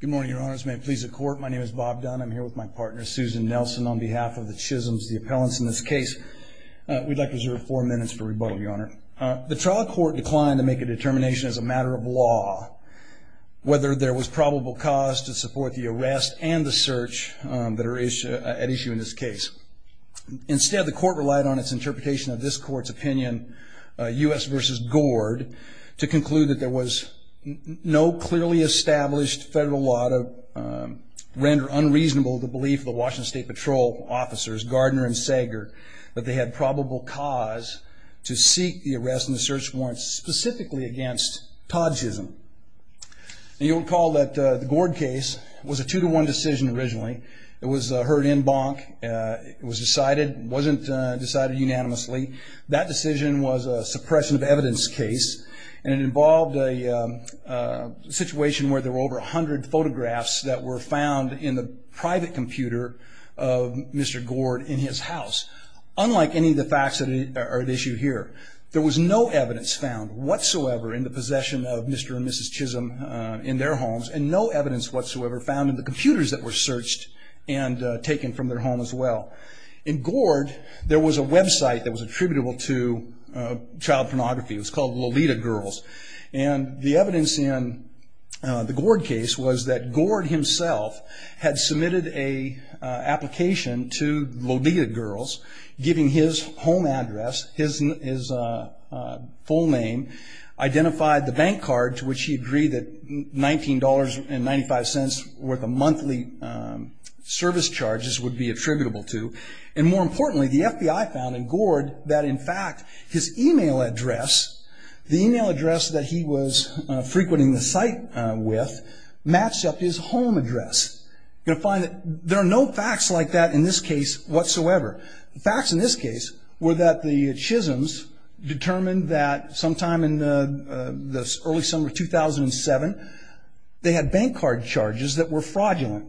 Good morning, Your Honors. May it please the Court, my name is Bob Dunn. I'm here with my partner Susan Nelson on behalf of the Chisms, the appellants in this case. We'd like to reserve four minutes for rebuttal, Your Honor. The trial court declined to make a determination as a matter of law whether there was probable cause to support the arrest and the search that are at issue in this case. Instead, the court relied on its interpretation of this court's opinion, U.S. v. Gord, to conclude that there was no clearly established federal law to render unreasonable the belief of the Washington State Patrol officers Gardner and Sager that they had probable cause to seek the arrest and the search warrant specifically against Todd Chism. You'll recall that the Gord case was a two-to-one decision originally. It was heard in bonk. It was decided, wasn't decided unanimously. That decision was a suppression of evidence case and it involved a situation where there were over a hundred photographs that were found in the private computer of Mr. Gord in his house. Unlike any of the facts that are at issue here, there was no evidence found whatsoever in the possession of Mr. and Mrs. Chism in their homes and no evidence whatsoever found in the computers that were searched and taken from their home as well. In Gord, there was a website that was attributable to child pornography. It was called Lolita Girls and the evidence in the Gord case was that Gord himself had submitted a application to Lolita Girls giving his home address, his full name, identified the bank card to which he agreed that $19.95 worth of monthly service charges would be attributable to. And more importantly, the FBI found in Gord that in fact his email address, the email address that he was frequenting the site with, matched up his home address. You'll find that there are no facts like that in this case whatsoever. The facts in this case were that the Chisms determined that sometime in the early summer 2007, they had bank card charges that were fraudulent.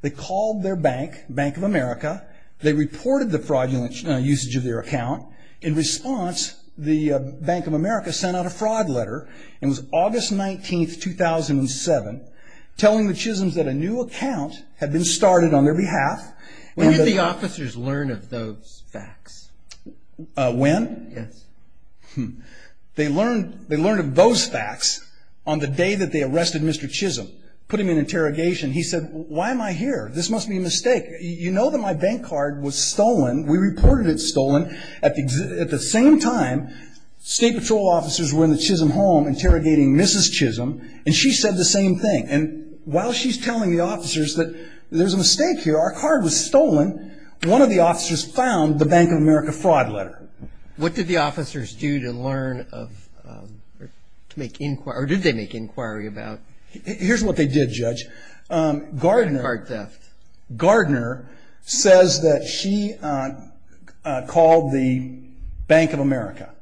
They called their bank, Bank of America. They reported the fraudulent usage of their account. In response, the Bank of America sent out a fraud letter. It was August 19th, 2007, telling the Chisms that a new account had been started on their behalf. When did the officers learn of those facts? When? Yes. They learned of those facts on the day that they arrested Mr. Chism, put him in interrogation. He said, why am I here? This must be a mistake. You know that my bank card was stolen. We reported it stolen. At the same time, State Patrol officers were in the Chism home interrogating Mrs. Chism, and she said the same thing. And while she's telling the officers that there's a mistake here, our card was stolen, one of the officers found the Bank of America fraud letter. What did the officers do to learn of, to make inquiry, or did they make inquiry about? Here's what they did, Judge. Gardner says that she called the Bank of America.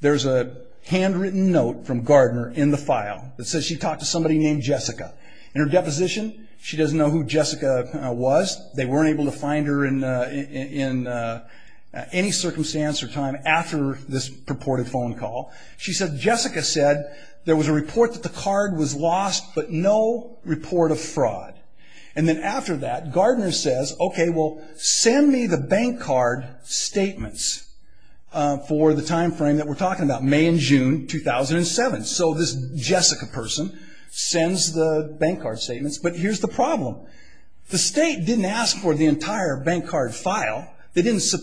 There's a handwritten note from Gardner in the file that says she talked to somebody named Jessica. In her deposition, she doesn't know who Jessica was. They weren't able to find her in any circumstance or time after this purported phone call. She said Jessica said there was a report that the card was lost, but no report of fraud. And then after that, Gardner says, okay, well, send me the bank card statements for the time frame that we're talking about, May and June 2007. So this Jessica person sends the bank card statements, but here's the problem. The state didn't ask for the entire bank card file. They didn't get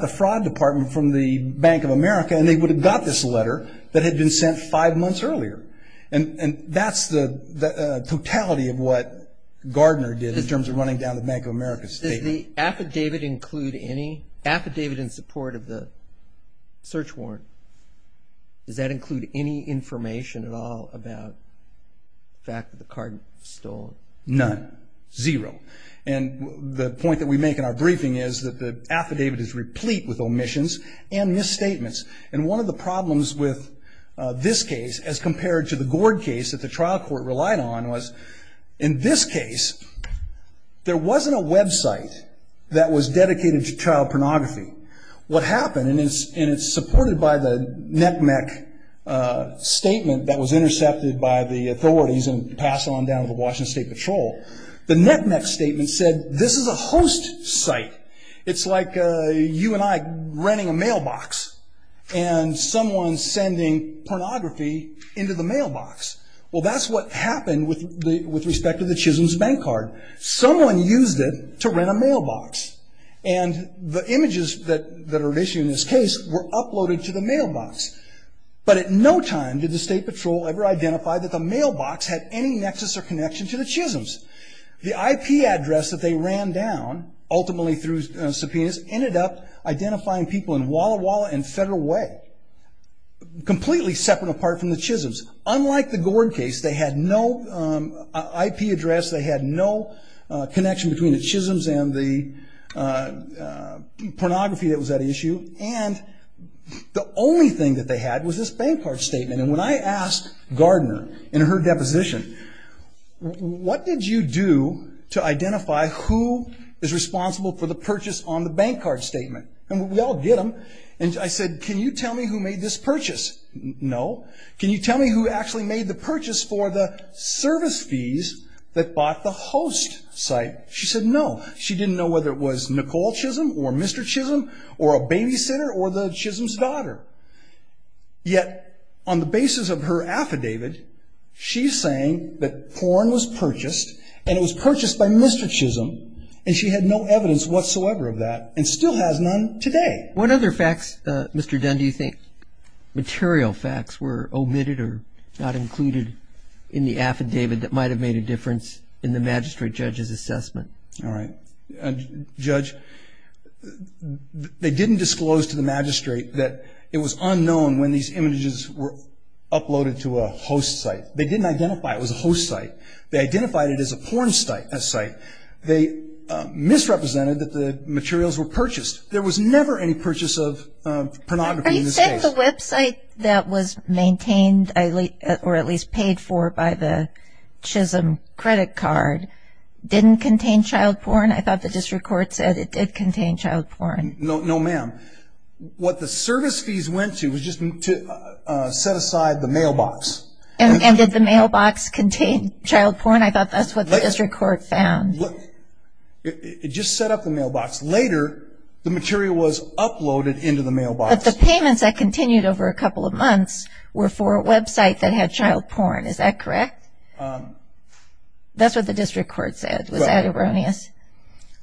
the fraud department from the Bank of America, and they would have got this letter that had been sent five months earlier. And that's the totality of what Gardner did in terms of running down the Bank of America statement. Does the affidavit include any, affidavit in support of the search warrant, does that include any information at all about the fact that the card was stolen? None. Zero. And the point that we make in our briefing is that the affidavit is replete with omissions and misstatements. And one of the problems with this case as compared to the Gord case that the trial court relied on was, in this case, there wasn't a website that was dedicated to child pornography. What happened, and it's supported by the NETMEC statement that was intercepted by the authorities and passed on down to the Washington State Patrol, the NETMEC statement said this is a host site. It's like you and I renting a mailbox and someone's sending pornography into the mailbox. Well, that's what happened with respect to the Chisholm's bank card. Someone used it to rent a mailbox. And the images that are issued in this case were uploaded to the mailbox. But at no time did the State Patrol ever identify that the mailbox had any nexus or connection to the Chisholm's. The IP address that they ran down, ultimately through subpoenas, ended up identifying people in Walla Walla and Federal Way, completely separate apart from the Chisholm's. Unlike the Gord case, they had no IP address. They had no connection between the Chisholm's and the pornography that was at issue. And the only thing that they had was this bank card statement. And when I asked Gardner in her deposition, what did you do to identify who is responsible for the purchase on the bank card statement? And we all get them. And I said, can you tell me who made this purchase? No. Can you tell me who actually made the purchase for the service fees that bought the host site? She said no. She didn't know whether it was Nicole Chisholm or Mr. Chisholm or a babysitter or the Chisholm's She's saying that porn was purchased and it was purchased by Mr. Chisholm and she had no evidence whatsoever of that and still has none today. What other facts, Mr. Dunn, do you think material facts were omitted or not included in the affidavit that might have made a difference in the magistrate judge's assessment? All right. Judge, they didn't disclose to the magistrate that it was unknown when these images were uploaded to a host site. They didn't identify it was a host site. They identified it as a porn site. They misrepresented that the materials were purchased. There was never any purchase of pornography in this case. Are you saying the website that was maintained or at least paid for by the Chisholm credit card didn't contain child porn? I thought the district court said it did contain child porn. No, ma'am. What the service fees went to was just to set aside the mailbox. And did the mailbox contain child porn? I thought that's what the district court found. Look, it just set up the mailbox. Later, the material was uploaded into the mailbox. But the payments that continued over a couple of months were for a website that had child porn. Is that correct? That's what the district court said. Was that erroneous?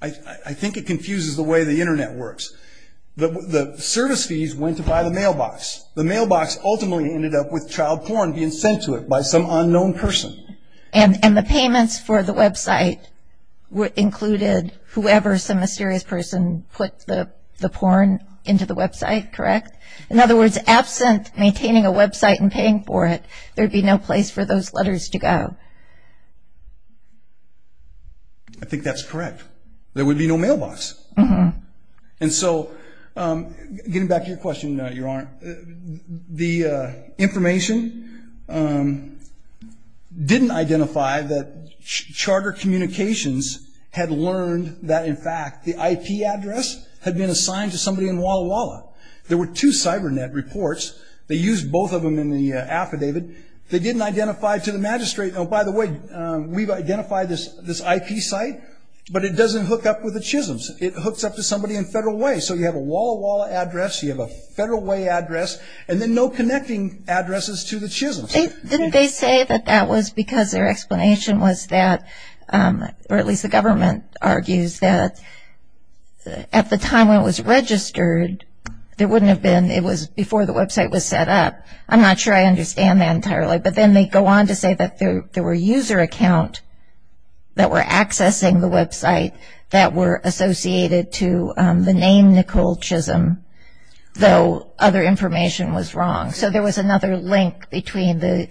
I think it confuses the way the internet works. The service fees went to buy the mailbox. The mailbox ultimately ended up with child porn being sent to it by some unknown person. And the payments for the website included whoever, some mysterious person, put the porn into the website, correct? In other words, absent maintaining a website and paying for it, there'd be no place for those letters to go. I think that's correct. There would be no mailbox. And so, getting back to your question, Your Honor, the information didn't identify that charter communications had learned that, in fact, the IP address had been assigned to somebody in Walla Walla. There were two cybernet reports. They used both of them in the affidavit. They didn't identify to the magistrate. Oh, by the way, we've identified this IP site, but it doesn't hook up with the Chisholm's. It hooks up to somebody in Federal Way. So, you have a Walla Walla address. You have a Federal Way address. And then no connecting addresses to the Chisholm's. Didn't they say that that was because their explanation was that, or at least the government argues that, at the time when it was registered, there wouldn't have been a connection. I'm not sure I understand that entirely. But then they go on to say that there were user accounts that were accessing the website that were associated to the name Nicole Chisholm, though other information was wrong. So, there was another link between the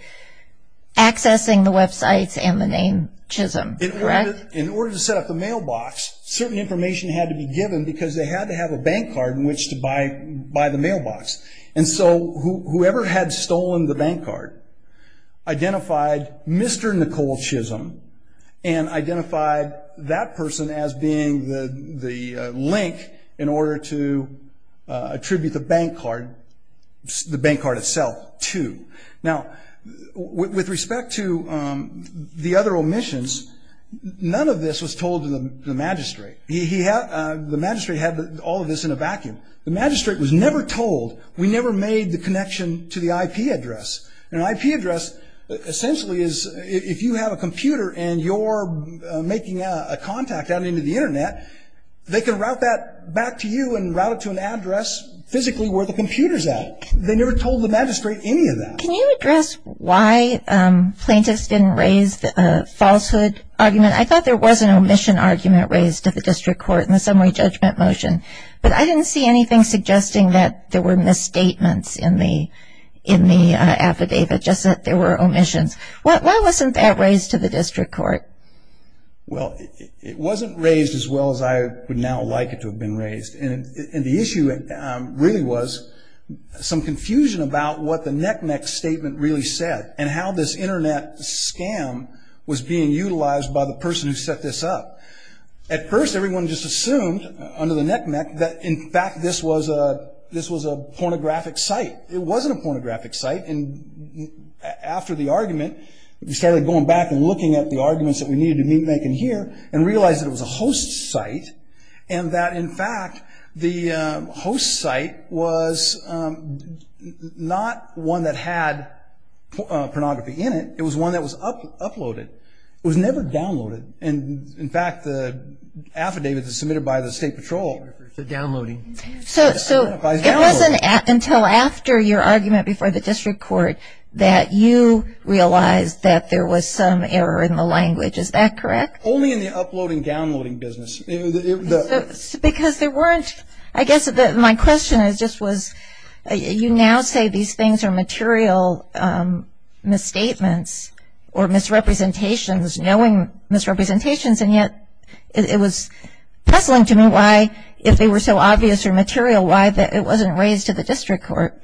accessing the website and the name Chisholm, correct? In order to set up a mailbox, certain information had to be stolen, the bank card, identified Mr. Nicole Chisholm, and identified that person as being the link in order to attribute the bank card, the bank card itself, to. Now, with respect to the other omissions, none of this was told to the magistrate. The magistrate had all of this in a vacuum. The magistrate was asking for an IP address. An IP address, essentially, is if you have a computer and you're making a contact out into the Internet, they can route that back to you and route it to an address physically where the computer's at. They never told the magistrate any of that. Can you address why plaintiffs didn't raise the falsehood argument? I thought there was an omission argument raised to the District Court in the summary judgment motion, but I didn't see anything suggesting that there were misstatements in the affidavit, just that there were omissions. Why wasn't that raised to the District Court? Well, it wasn't raised as well as I would now like it to have been raised. And it wasn't raised as being utilized by the person who set this up. At first, everyone just assumed, under the knick-knack, that, in fact, this was a pornographic site. It wasn't a pornographic site. And after the argument, we started going back and looking at the arguments that we needed to make in here and realized that it was a host site and that, in fact, the host site was not one that had pornography in it. It was one that was uploaded. It was never downloaded. And, in fact, the affidavit that was submitted by the State Patrol identifies downloading. So it wasn't until after your argument before the District Court that you realized that there was some error in the language. Is that correct? Only in the uploading-downloading business. I guess my question just was, you now say these things are material misstatements or misrepresentations, knowing misrepresentations, and yet it was puzzling to me why, if they were so obvious or material, why it wasn't raised to the District Court.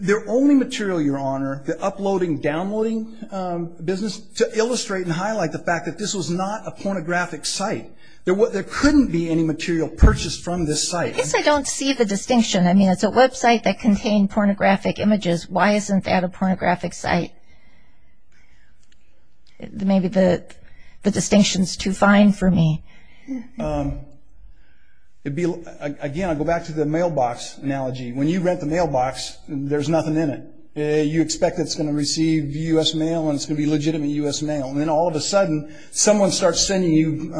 They're only material, Your Honor, the uploading-downloading business, to illustrate and highlight the fact that this was not a pornographic site. There couldn't be any material purchased from this site. I guess I don't see the distinction. I mean, it's a website that contained pornographic images. Why isn't that a pornographic site? Maybe the mailbox, there's nothing in it. You expect it's going to receive U.S. mail and it's going to be legitimate U.S. mail. And then all of a sudden, someone starts sending you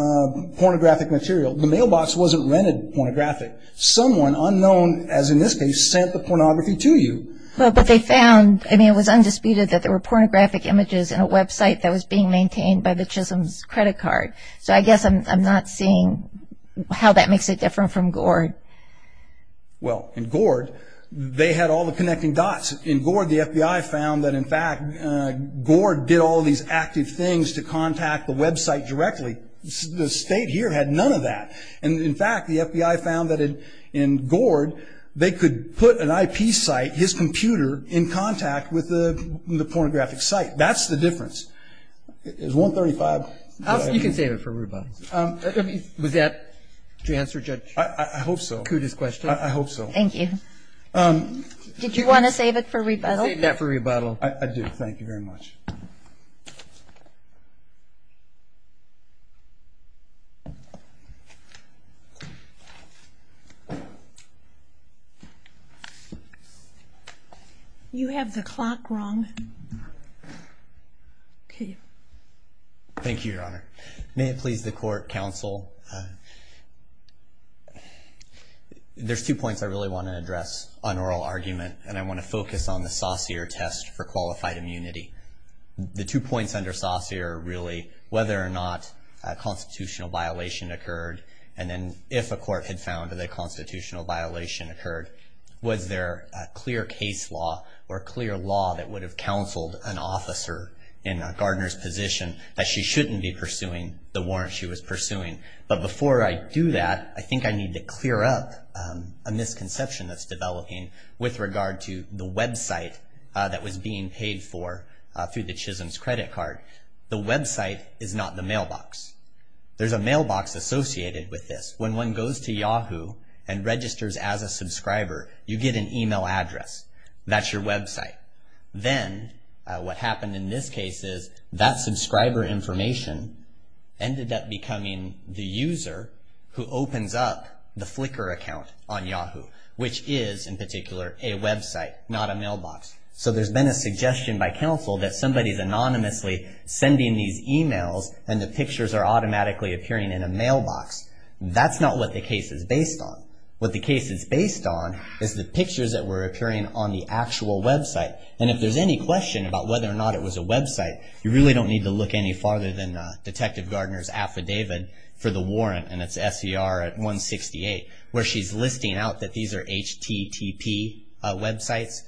pornographic material. The mailbox wasn't rented pornographic. Someone unknown, as in this case, sent the pornography to you. Well, but they found, I mean, it was undisputed that there were pornographic images in a website that was being maintained by the Chisholm's credit card. So I guess I'm not seeing how that makes it different from Gord. Well, in Gord, they had all the connecting dots. In Gord, the FBI found that, in fact, Gord did all these active things to contact the website directly. The State here had none of that. And, in fact, the FBI found that in Gord, they could put an IP site, his computer, in contact with the pornographic site. That's the difference. Is 135? You can save it for rebuttal. Was that to answer Judge Kuda's question? I hope so. I hope so. Thank you. Did you want to save it for rebuttal? Save that for rebuttal. I do. Thank you very much. You have the clock wrong. Okay. Thank you, Your Honor. May it please the court, counsel? There's two points I really want to address on oral argument, and I want to focus on the Saussure test for qualified immunity. The two points under Saussure, really, whether or not a constitutional violation occurred, and if a court had found that a constitutional violation occurred, was there a clear case law or clear law that would have counseled an officer in Gardner's position that she shouldn't be pursuing the warrant she was pursuing? But before I do that, I think I need to clear up a misconception that's developing with regard to the website that was being paid for through the Chisholm's credit card. The website is not the mailbox. There's a mailbox associated with this. When one goes to Yahoo and registers as a subscriber, you get an email address. That's your website. Then what happened in this case is that subscriber information ended up becoming the user who opens up the Flickr account on Yahoo, which is, in particular, a website, not a mailbox. So there's been a suggestion by counsel that somebody's anonymously sending these emails, and the pictures are automatically appearing in a mailbox. That's not what the case is based on. What the case is based on is the pictures that were appearing on the actual website. And if there's any question about whether or not it was a website, you really don't need to look any farther than Detective Gardner's affidavit for the warrant, and it's SCR 168, where she's listing out that these are HTTP websites.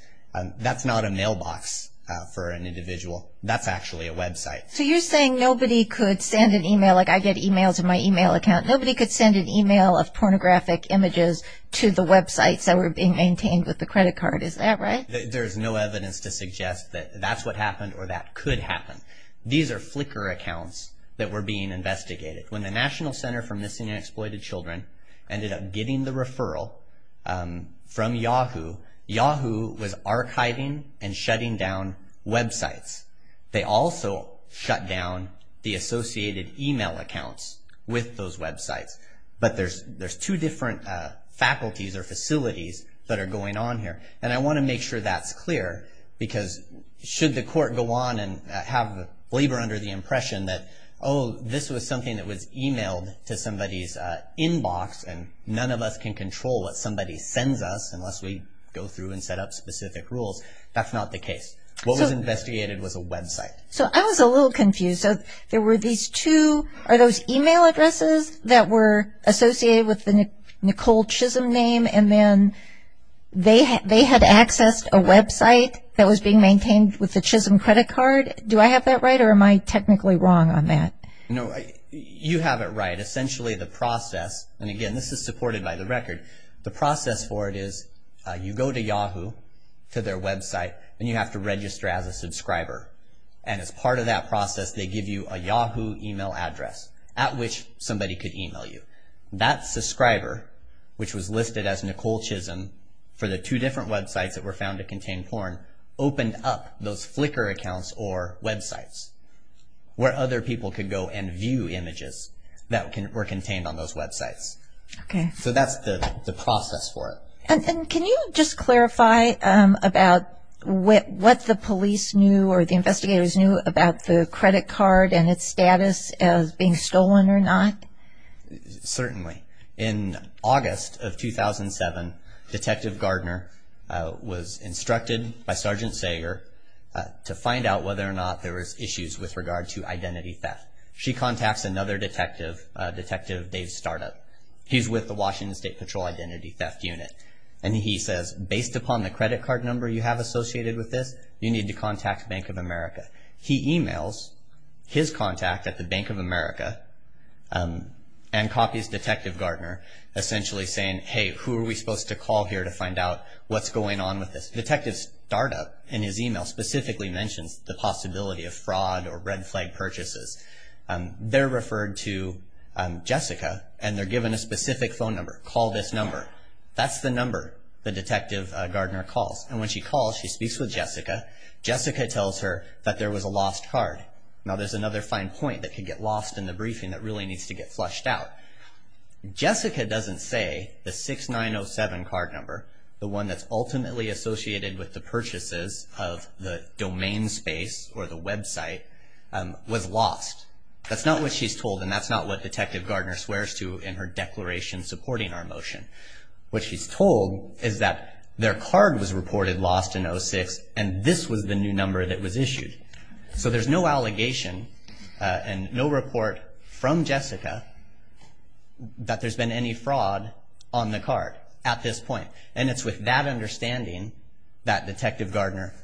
That's not a mailbox for an HTTP website. So you're saying nobody could send an email, like I get emails in my email account, nobody could send an email of pornographic images to the websites that were being maintained with the credit card. Is that right? There's no evidence to suggest that that's what happened or that could happen. These are Flickr accounts that were being investigated. When the National Center for Missing and Exploited Children ended up getting the referral from Yahoo, Yahoo was archiving and shutting down websites. They also shut down the associated email accounts with those websites. But there's two different faculties or facilities that are going on here, and I want to make sure that's clear, because should the court go on and have labor under the impression that, oh, this was something that was emailed to somebody's inbox and none of us can actually go through and set up specific rules, that's not the case. What was investigated was a website. So I was a little confused. So there were these two, are those email addresses that were associated with the Nicole Chisholm name, and then they had accessed a website that was being maintained with the Chisholm credit card? Do I have that right or am I technically wrong on that? No, you have it right. Essentially the process, and again this is supported by the record, the process for it is you go to Yahoo, to their website, and you have to register as a subscriber. And as part of that process they give you a Yahoo email address at which somebody could email you. That subscriber, which was listed as Nicole Chisholm for the two different websites that were found to contain porn, opened up those Flickr accounts or websites where other people could go and view images that were contained on those websites. Okay. So that's the process for it. And can you just clarify about what the police knew or the investigators knew about the credit card and its status as being stolen or not? Certainly. In August of 2007, Detective Gardner was instructed by Sergeant Sager to find out whether or not there was issues with regard to identity theft. She contacts another detective, Detective Dave Startup. He's with the Washington State Patrol Identity Theft Unit. And he says, based upon the credit card number you have associated with this, you need to contact Bank of America. He emails his contact at the Bank of America and copies Detective Gardner essentially saying, hey, who are we supposed to call here to find out what's going on with this? Detective Startup in his email specifically mentions the possibility of fraud or they're referred to Jessica and they're given a specific phone number. Call this number. That's the number the Detective Gardner calls. And when she calls, she speaks with Jessica. Jessica tells her that there was a lost card. Now there's another fine point that could get lost in the briefing that really needs to get flushed out. Jessica doesn't say the 6907 card number, the one that's ultimately associated with the purchases of the domain space or the website, was lost. That's not what she's told and that's not what Detective Gardner swears to in her declaration supporting our motion. What she's told is that their card was reported lost in 06 and this was the new number that was issued. So there's no allegation and no report from Jessica that there's been any fraud on the card at this point. And it's with that understanding that Detective Gardner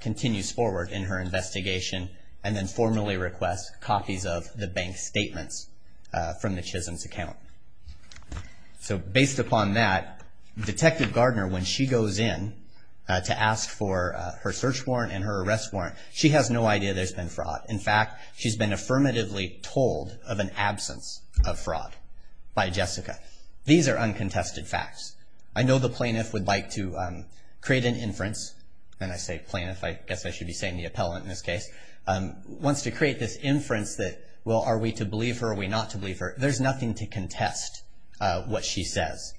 continues forward in her investigation and then formally requests copies of the bank statements from the Chisholm's account. So based upon that, Detective Gardner, when she goes in to ask for her search warrant and her arrest warrant, she has no idea there's been fraud. In fact, she's been affirmatively told of an absence of fraud by Jessica. These are uncontested facts. I know the plaintiff would like to create an inference, and I say plaintiff, I guess I should be saying the appellant in this case, wants to create this inference that, well, are we to believe her or are we not to believe her? There's nothing to contest what she says.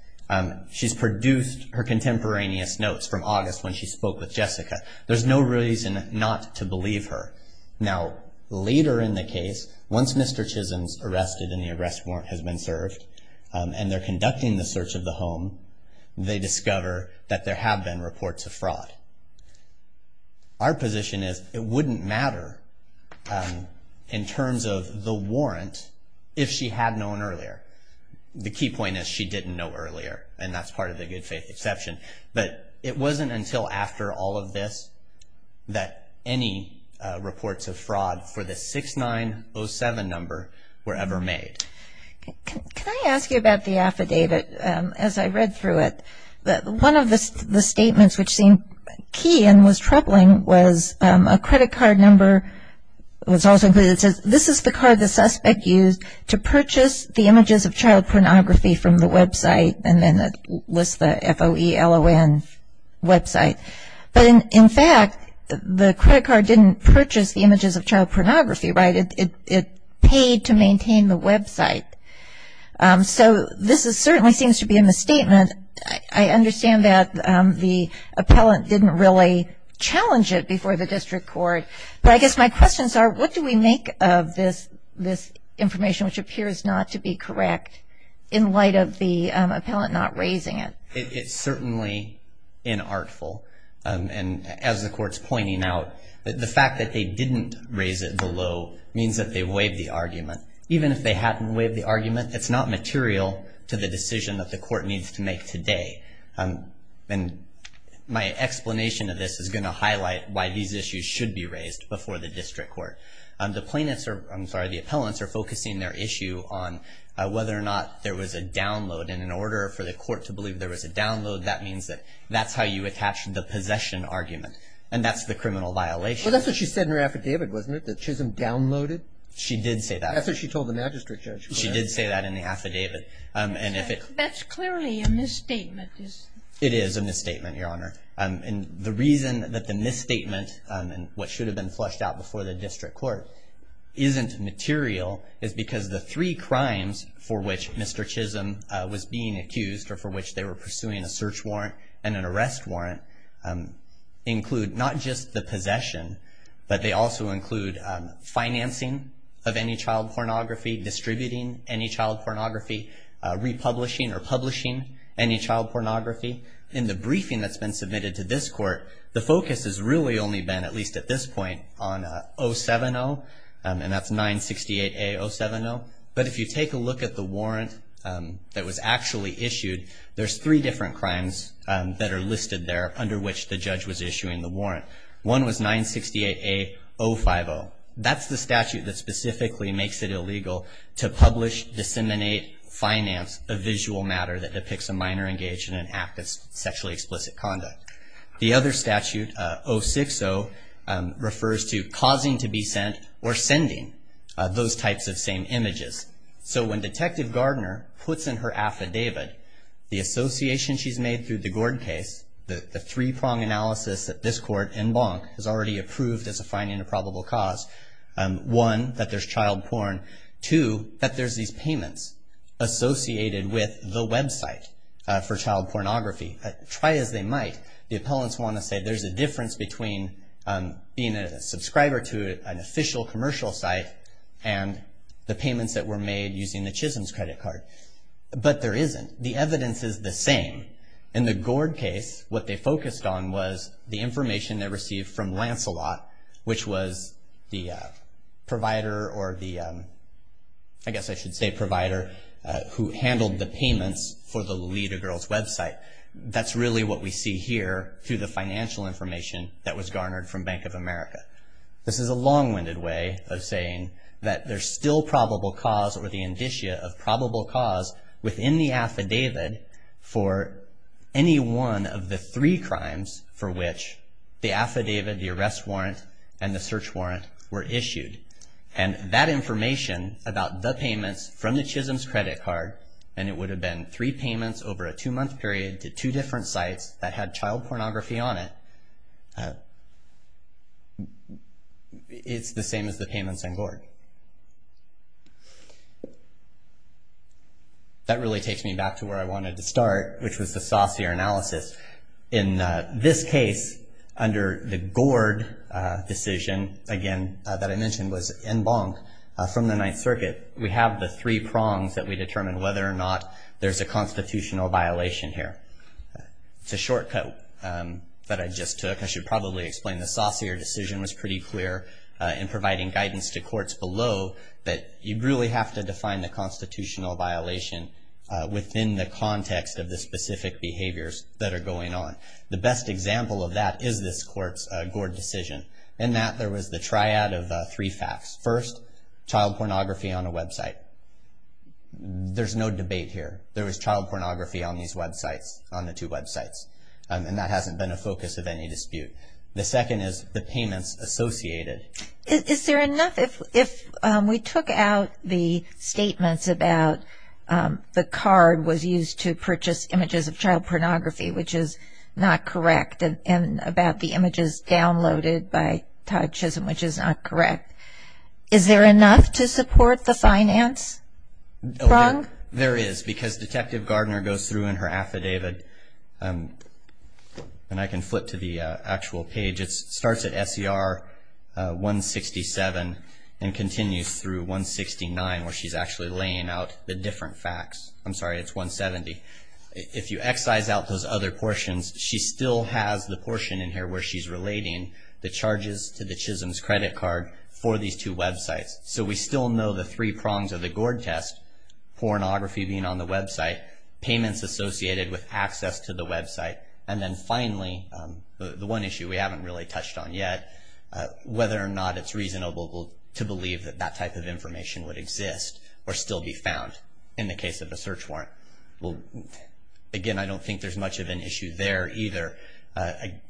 She's produced her contemporaneous notes from August when she spoke with Jessica. There's no reason not to believe her. Now, later in the case, once Mr. Chisholm's arrested and the arrest warrant has been served and they're conducting the search of the home, they discover that there have been reports of fraud. Our position is it wouldn't matter in terms of the warrant if she had known earlier. The key point is she didn't know earlier, and that's part of the good faith exception. But it wasn't until after all of this that any reports of fraud for the 6907 number were ever made. Can I ask you about the affidavit as I read through it? One of the statements which seemed key and was troubling was a credit card number was also included. It says, this is the card the suspect used to purchase the images of child pornography from the website, and then it lists the F-O-E-L-O-N website. But in fact, the credit card didn't purchase the images of child pornography, right? It paid to maintain the website. So this certainly seems to be in the statement. I understand that the appellant didn't really challenge it before the district court. But I guess my questions are, what do we make of this information which appears not to be correct in light of the appellant not raising it? It's certainly inartful. And as the court's pointing out, the fact that they didn't raise it below means that they waived the argument. Even if they hadn't waived the argument, it's not material to the decision that the court needs to make today. And my explanation of this is going to highlight why these issues should be raised before the district court. The plaintiffs are, I'm sorry, the appellants are focusing their issue on whether or not there was a download. And in order for the court to believe there was a download, that means that that's how you attach the possession argument. And that's the criminal violation. Well, that's what she said in her affidavit, wasn't it, that Chisholm downloaded? She did say that. That's what she told the magistrate judge. She did say that in the affidavit. That's clearly a misstatement. It is a misstatement, Your Honor. And the reason that the misstatement and what should have been flushed out before the district court isn't material is because the three crimes for which Mr. Chisholm was being accused or for which they were pursuing a search warrant and an arrest warrant include not just the possession, but they also include financing of any child pornography, distributing any child pornography, republishing or publishing any child pornography. In the briefing that's been submitted to this court, the focus has really only been, at least at this point, on 070, and that's 968A-070. But if you take a look at the warrant that was actually issued, there's three different crimes that are listed there under which the judge was issuing the warrant. One was 968A-050. That's the statute that specifically makes it illegal to publish, disseminate, finance a visual matter that depicts a minor engaged in an act of sexually explicit conduct. The other statute, 060, refers to causing to be sent or sending those types of same images. So when Detective Gardner puts in her affidavit, the association she's made through the Gord case, the three-prong analysis that this court and Bonk has already approved as a fine and a probable cause, one, that there's child porn, two, that there's these payments associated with the website for child pornography. Try as they might, the appellants want to say there's a difference between being a subscriber to an official commercial site and the payments that were made using the Chisholm's credit card. But there isn't. The evidence is the same. In the Gord case, what they focused on was the information they received from Lancelot, which was the provider or the, I guess I should say provider, who handled the payments for the Lolita Girls website. That's really what we see here through the financial information that was This is a long-winded way of saying that there's still probable cause or the indicia of probable cause within the affidavit for any one of the three crimes for which the affidavit, the arrest warrant, and the search warrant were issued. And that information about the payments from the Chisholm's credit card, and it would have been three payments over a two-month period to two different sites that had child pornography on it. It's the same as the payments in Gord. That really takes me back to where I wanted to start, which was the saucier analysis. In this case, under the Gord decision, again, that I mentioned was en banc from the Ninth Circuit, we have the three prongs that we determine whether or not there's a constitutional violation here. It's a shortcut that I just took. I should probably explain the saucier decision was pretty clear in providing guidance to courts below that you really have to define the constitutional violation within the context of the specific behaviors that are going on. The best example of that is this court's Gord decision. In that, there was the triad of three facts. First, child pornography on a website. There's no debate here. There was child pornography on these websites, on the two websites, and that hasn't been a focus of any dispute. The second is the payments associated. Is there enough? If we took out the statements about the card was used to purchase images of child pornography, which is not correct, and about the images downloaded by Todd Chisholm, which is not correct, is there enough to support the finance prong? There is, because Detective Gardner goes through in her affidavit, and I can flip to the actual page. It starts at SER 167 and continues through 169, where she's actually laying out the different facts. I'm sorry, it's 170. If you excise out those other portions, she still has the portion in here where she's relating the charges to the Chisholm's credit card for these two websites. So we still know the three prongs of the Gord test, pornography being on the website, payments associated with access to the website, and then finally, the one issue we haven't really touched on yet, whether or not it's reasonable to believe that that type of information would exist or still be found in the case of a search warrant. Again, I don't think there's much of an issue there either.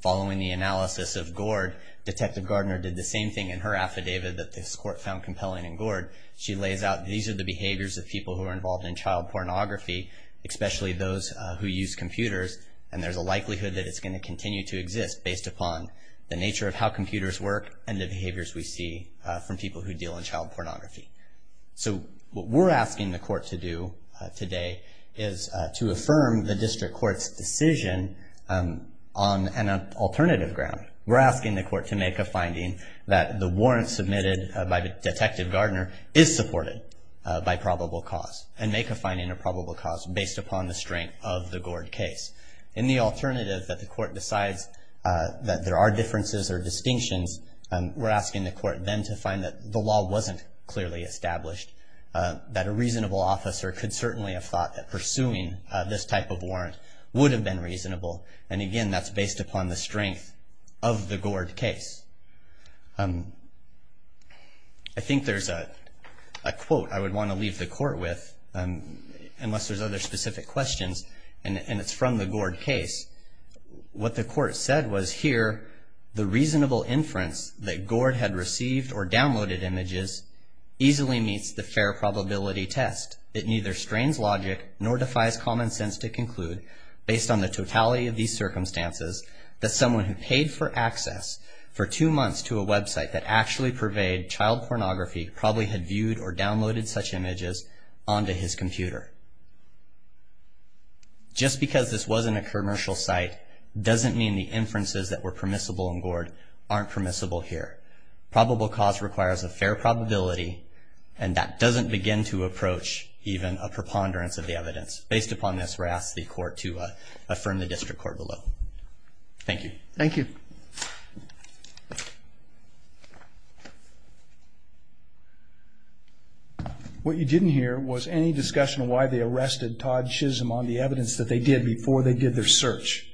Following the analysis of Gord, Detective Gardner did the same thing in her affidavit that this court found compelling in Gord. She lays out these are the behaviors of people who are involved in child pornography, especially those who use computers, and there's a likelihood that it's going to continue to exist based upon the nature of how computers work and the behaviors we see from people who deal in child pornography. So what we're asking the court to do today is to affirm the district court's decision on an alternative ground. We're asking the court to make a finding that the warrant submitted by Detective Gardner is supported by probable cause, and make a finding of probable cause based upon the strength of the Gord case. In the alternative that the court decides that there are differences or distinctions, we're asking the court then to find that the law wasn't clearly established, that a reasonable officer could certainly have thought that pursuing this type of warrant would have been reasonable. And again, that's based upon the strength of the Gord case. I think there's a quote I would want to leave the court with, unless there's other specific questions, and it's from the Gord case. What the court said was, here the reasonable inference that Gord had received or downloaded images easily meets the fair probability test. It neither strains logic nor defies common sense to conclude based on the brutality of these circumstances that someone who paid for access for two months to a website that actually purveyed child pornography probably had viewed or downloaded such images onto his computer. Just because this wasn't a commercial site doesn't mean the inferences that were permissible in Gord aren't permissible here. Probable cause requires a fair probability, and that doesn't begin to approach even a preponderance of the evidence. Based upon this, we ask the court to affirm the district court below. Thank you. Thank you. What you didn't hear was any discussion of why they arrested Todd Chisholm on the evidence that they did before they did their search.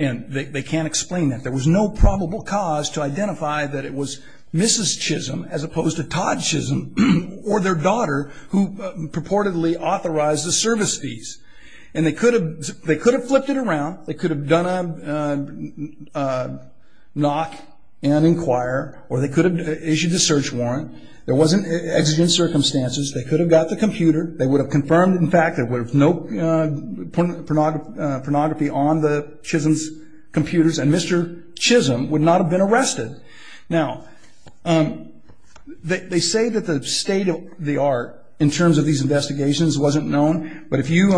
And they can't explain that. There was no probable cause to identify that it was Mrs. Chisholm, as opposed to Todd Chisholm or their daughter, who purportedly authorized the service fees. And they could have flipped it around. They could have done a knock and inquire, or they could have issued a search warrant. There wasn't exigent circumstances. They could have got the computer. They would have confirmed, in fact, that there was no pornography on the Chisholm's computers, and Mr. Chisholm would not have been arrested. Now, they say that the state of the art, in terms of these investigations, wasn't known. But if you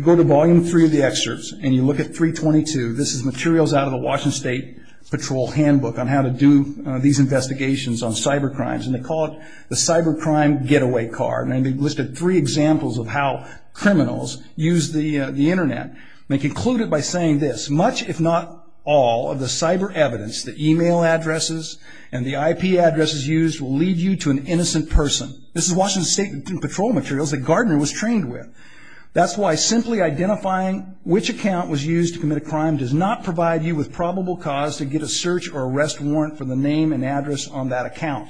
go to Volume 3 of the excerpts and you look at 322, this is materials out of the Washington State Patrol handbook on how to do these investigations on cybercrimes. And they call it the cybercrime getaway car. And they've listed three examples of how criminals use the Internet. And they conclude it by saying this, that much, if not all, of the cyber evidence, the e-mail addresses and the IP addresses used, will lead you to an innocent person. This is Washington State Patrol materials that Gardner was trained with. That's why simply identifying which account was used to commit a crime does not provide you with probable cause to get a search or arrest warrant for the name and address on that account.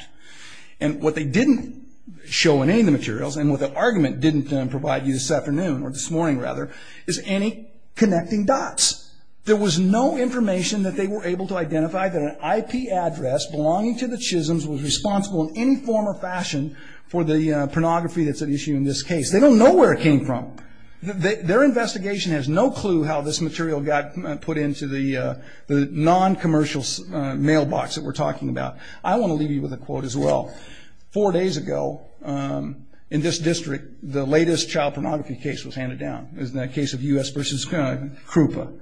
And what they didn't show in any of the materials, and what the argument didn't provide you this afternoon, or this morning rather, is any connecting dots. There was no information that they were able to identify that an IP address belonging to the Chisholm's was responsible in any form or fashion for the pornography that's at issue in this case. They don't know where it came from. Their investigation has no clue how this material got put into the non-commercial mailbox that we're talking about. I want to leave you with a quote as well. Four days ago, in this district, the latest child pornography case was handed down. It was the case of U.S. v. Krupa.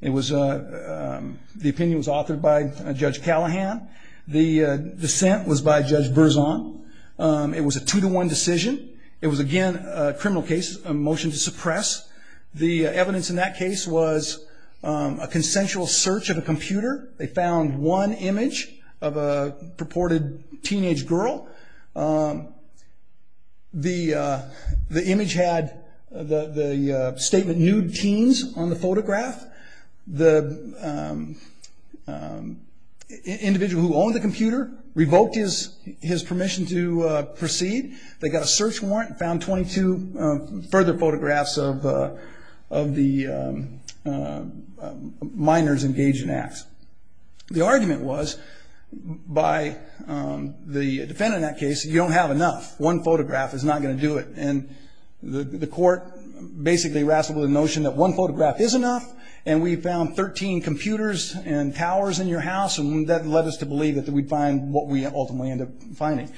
The opinion was authored by Judge Callahan. The dissent was by Judge Berzon. It was a two-to-one decision. It was, again, a criminal case, a motion to suppress. The evidence in that case was a consensual search of a computer. They found one image of a purported teenage girl. The image had the statement, nude teens, on the photograph. The individual who owned the computer revoked his permission to proceed. They got a search warrant and found 22 further photographs The argument was, by the defendant in that case, you don't have enough. One photograph is not going to do it. And the court basically wrestled with the notion that one photograph is enough, and we found 13 computers and towers in your house, and that led us to believe that we'd find what we ultimately ended up finding.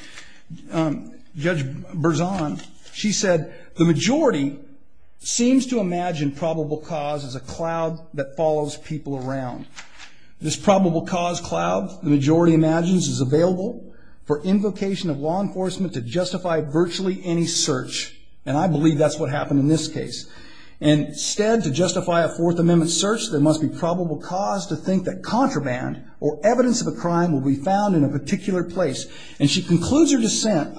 Judge Berzon, she said, The majority seems to imagine probable cause as a cloud that follows people around. This probable cause cloud, the majority imagines, is available for invocation of law enforcement to justify virtually any search. And I believe that's what happened in this case. Instead, to justify a Fourth Amendment search, there must be probable cause to think that contraband or evidence of a crime will be found in a particular place. And she concludes her dissent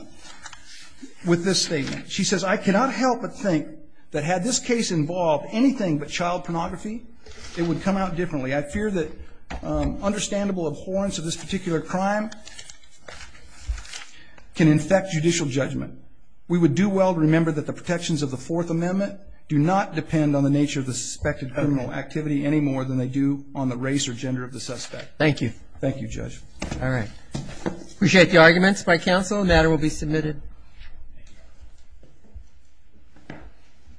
with this statement. She says, I cannot help but think that had this case involved anything but child pornography, it would come out differently. I fear that understandable abhorrence of this particular crime can infect judicial judgment. We would do well to remember that the protections of the Fourth Amendment do not depend on the nature of the suspected criminal activity any more than they do on the race or gender of the suspect. Thank you. Thank you, Judge. All right. Appreciate the arguments by counsel. The matter will be submitted. Thank you.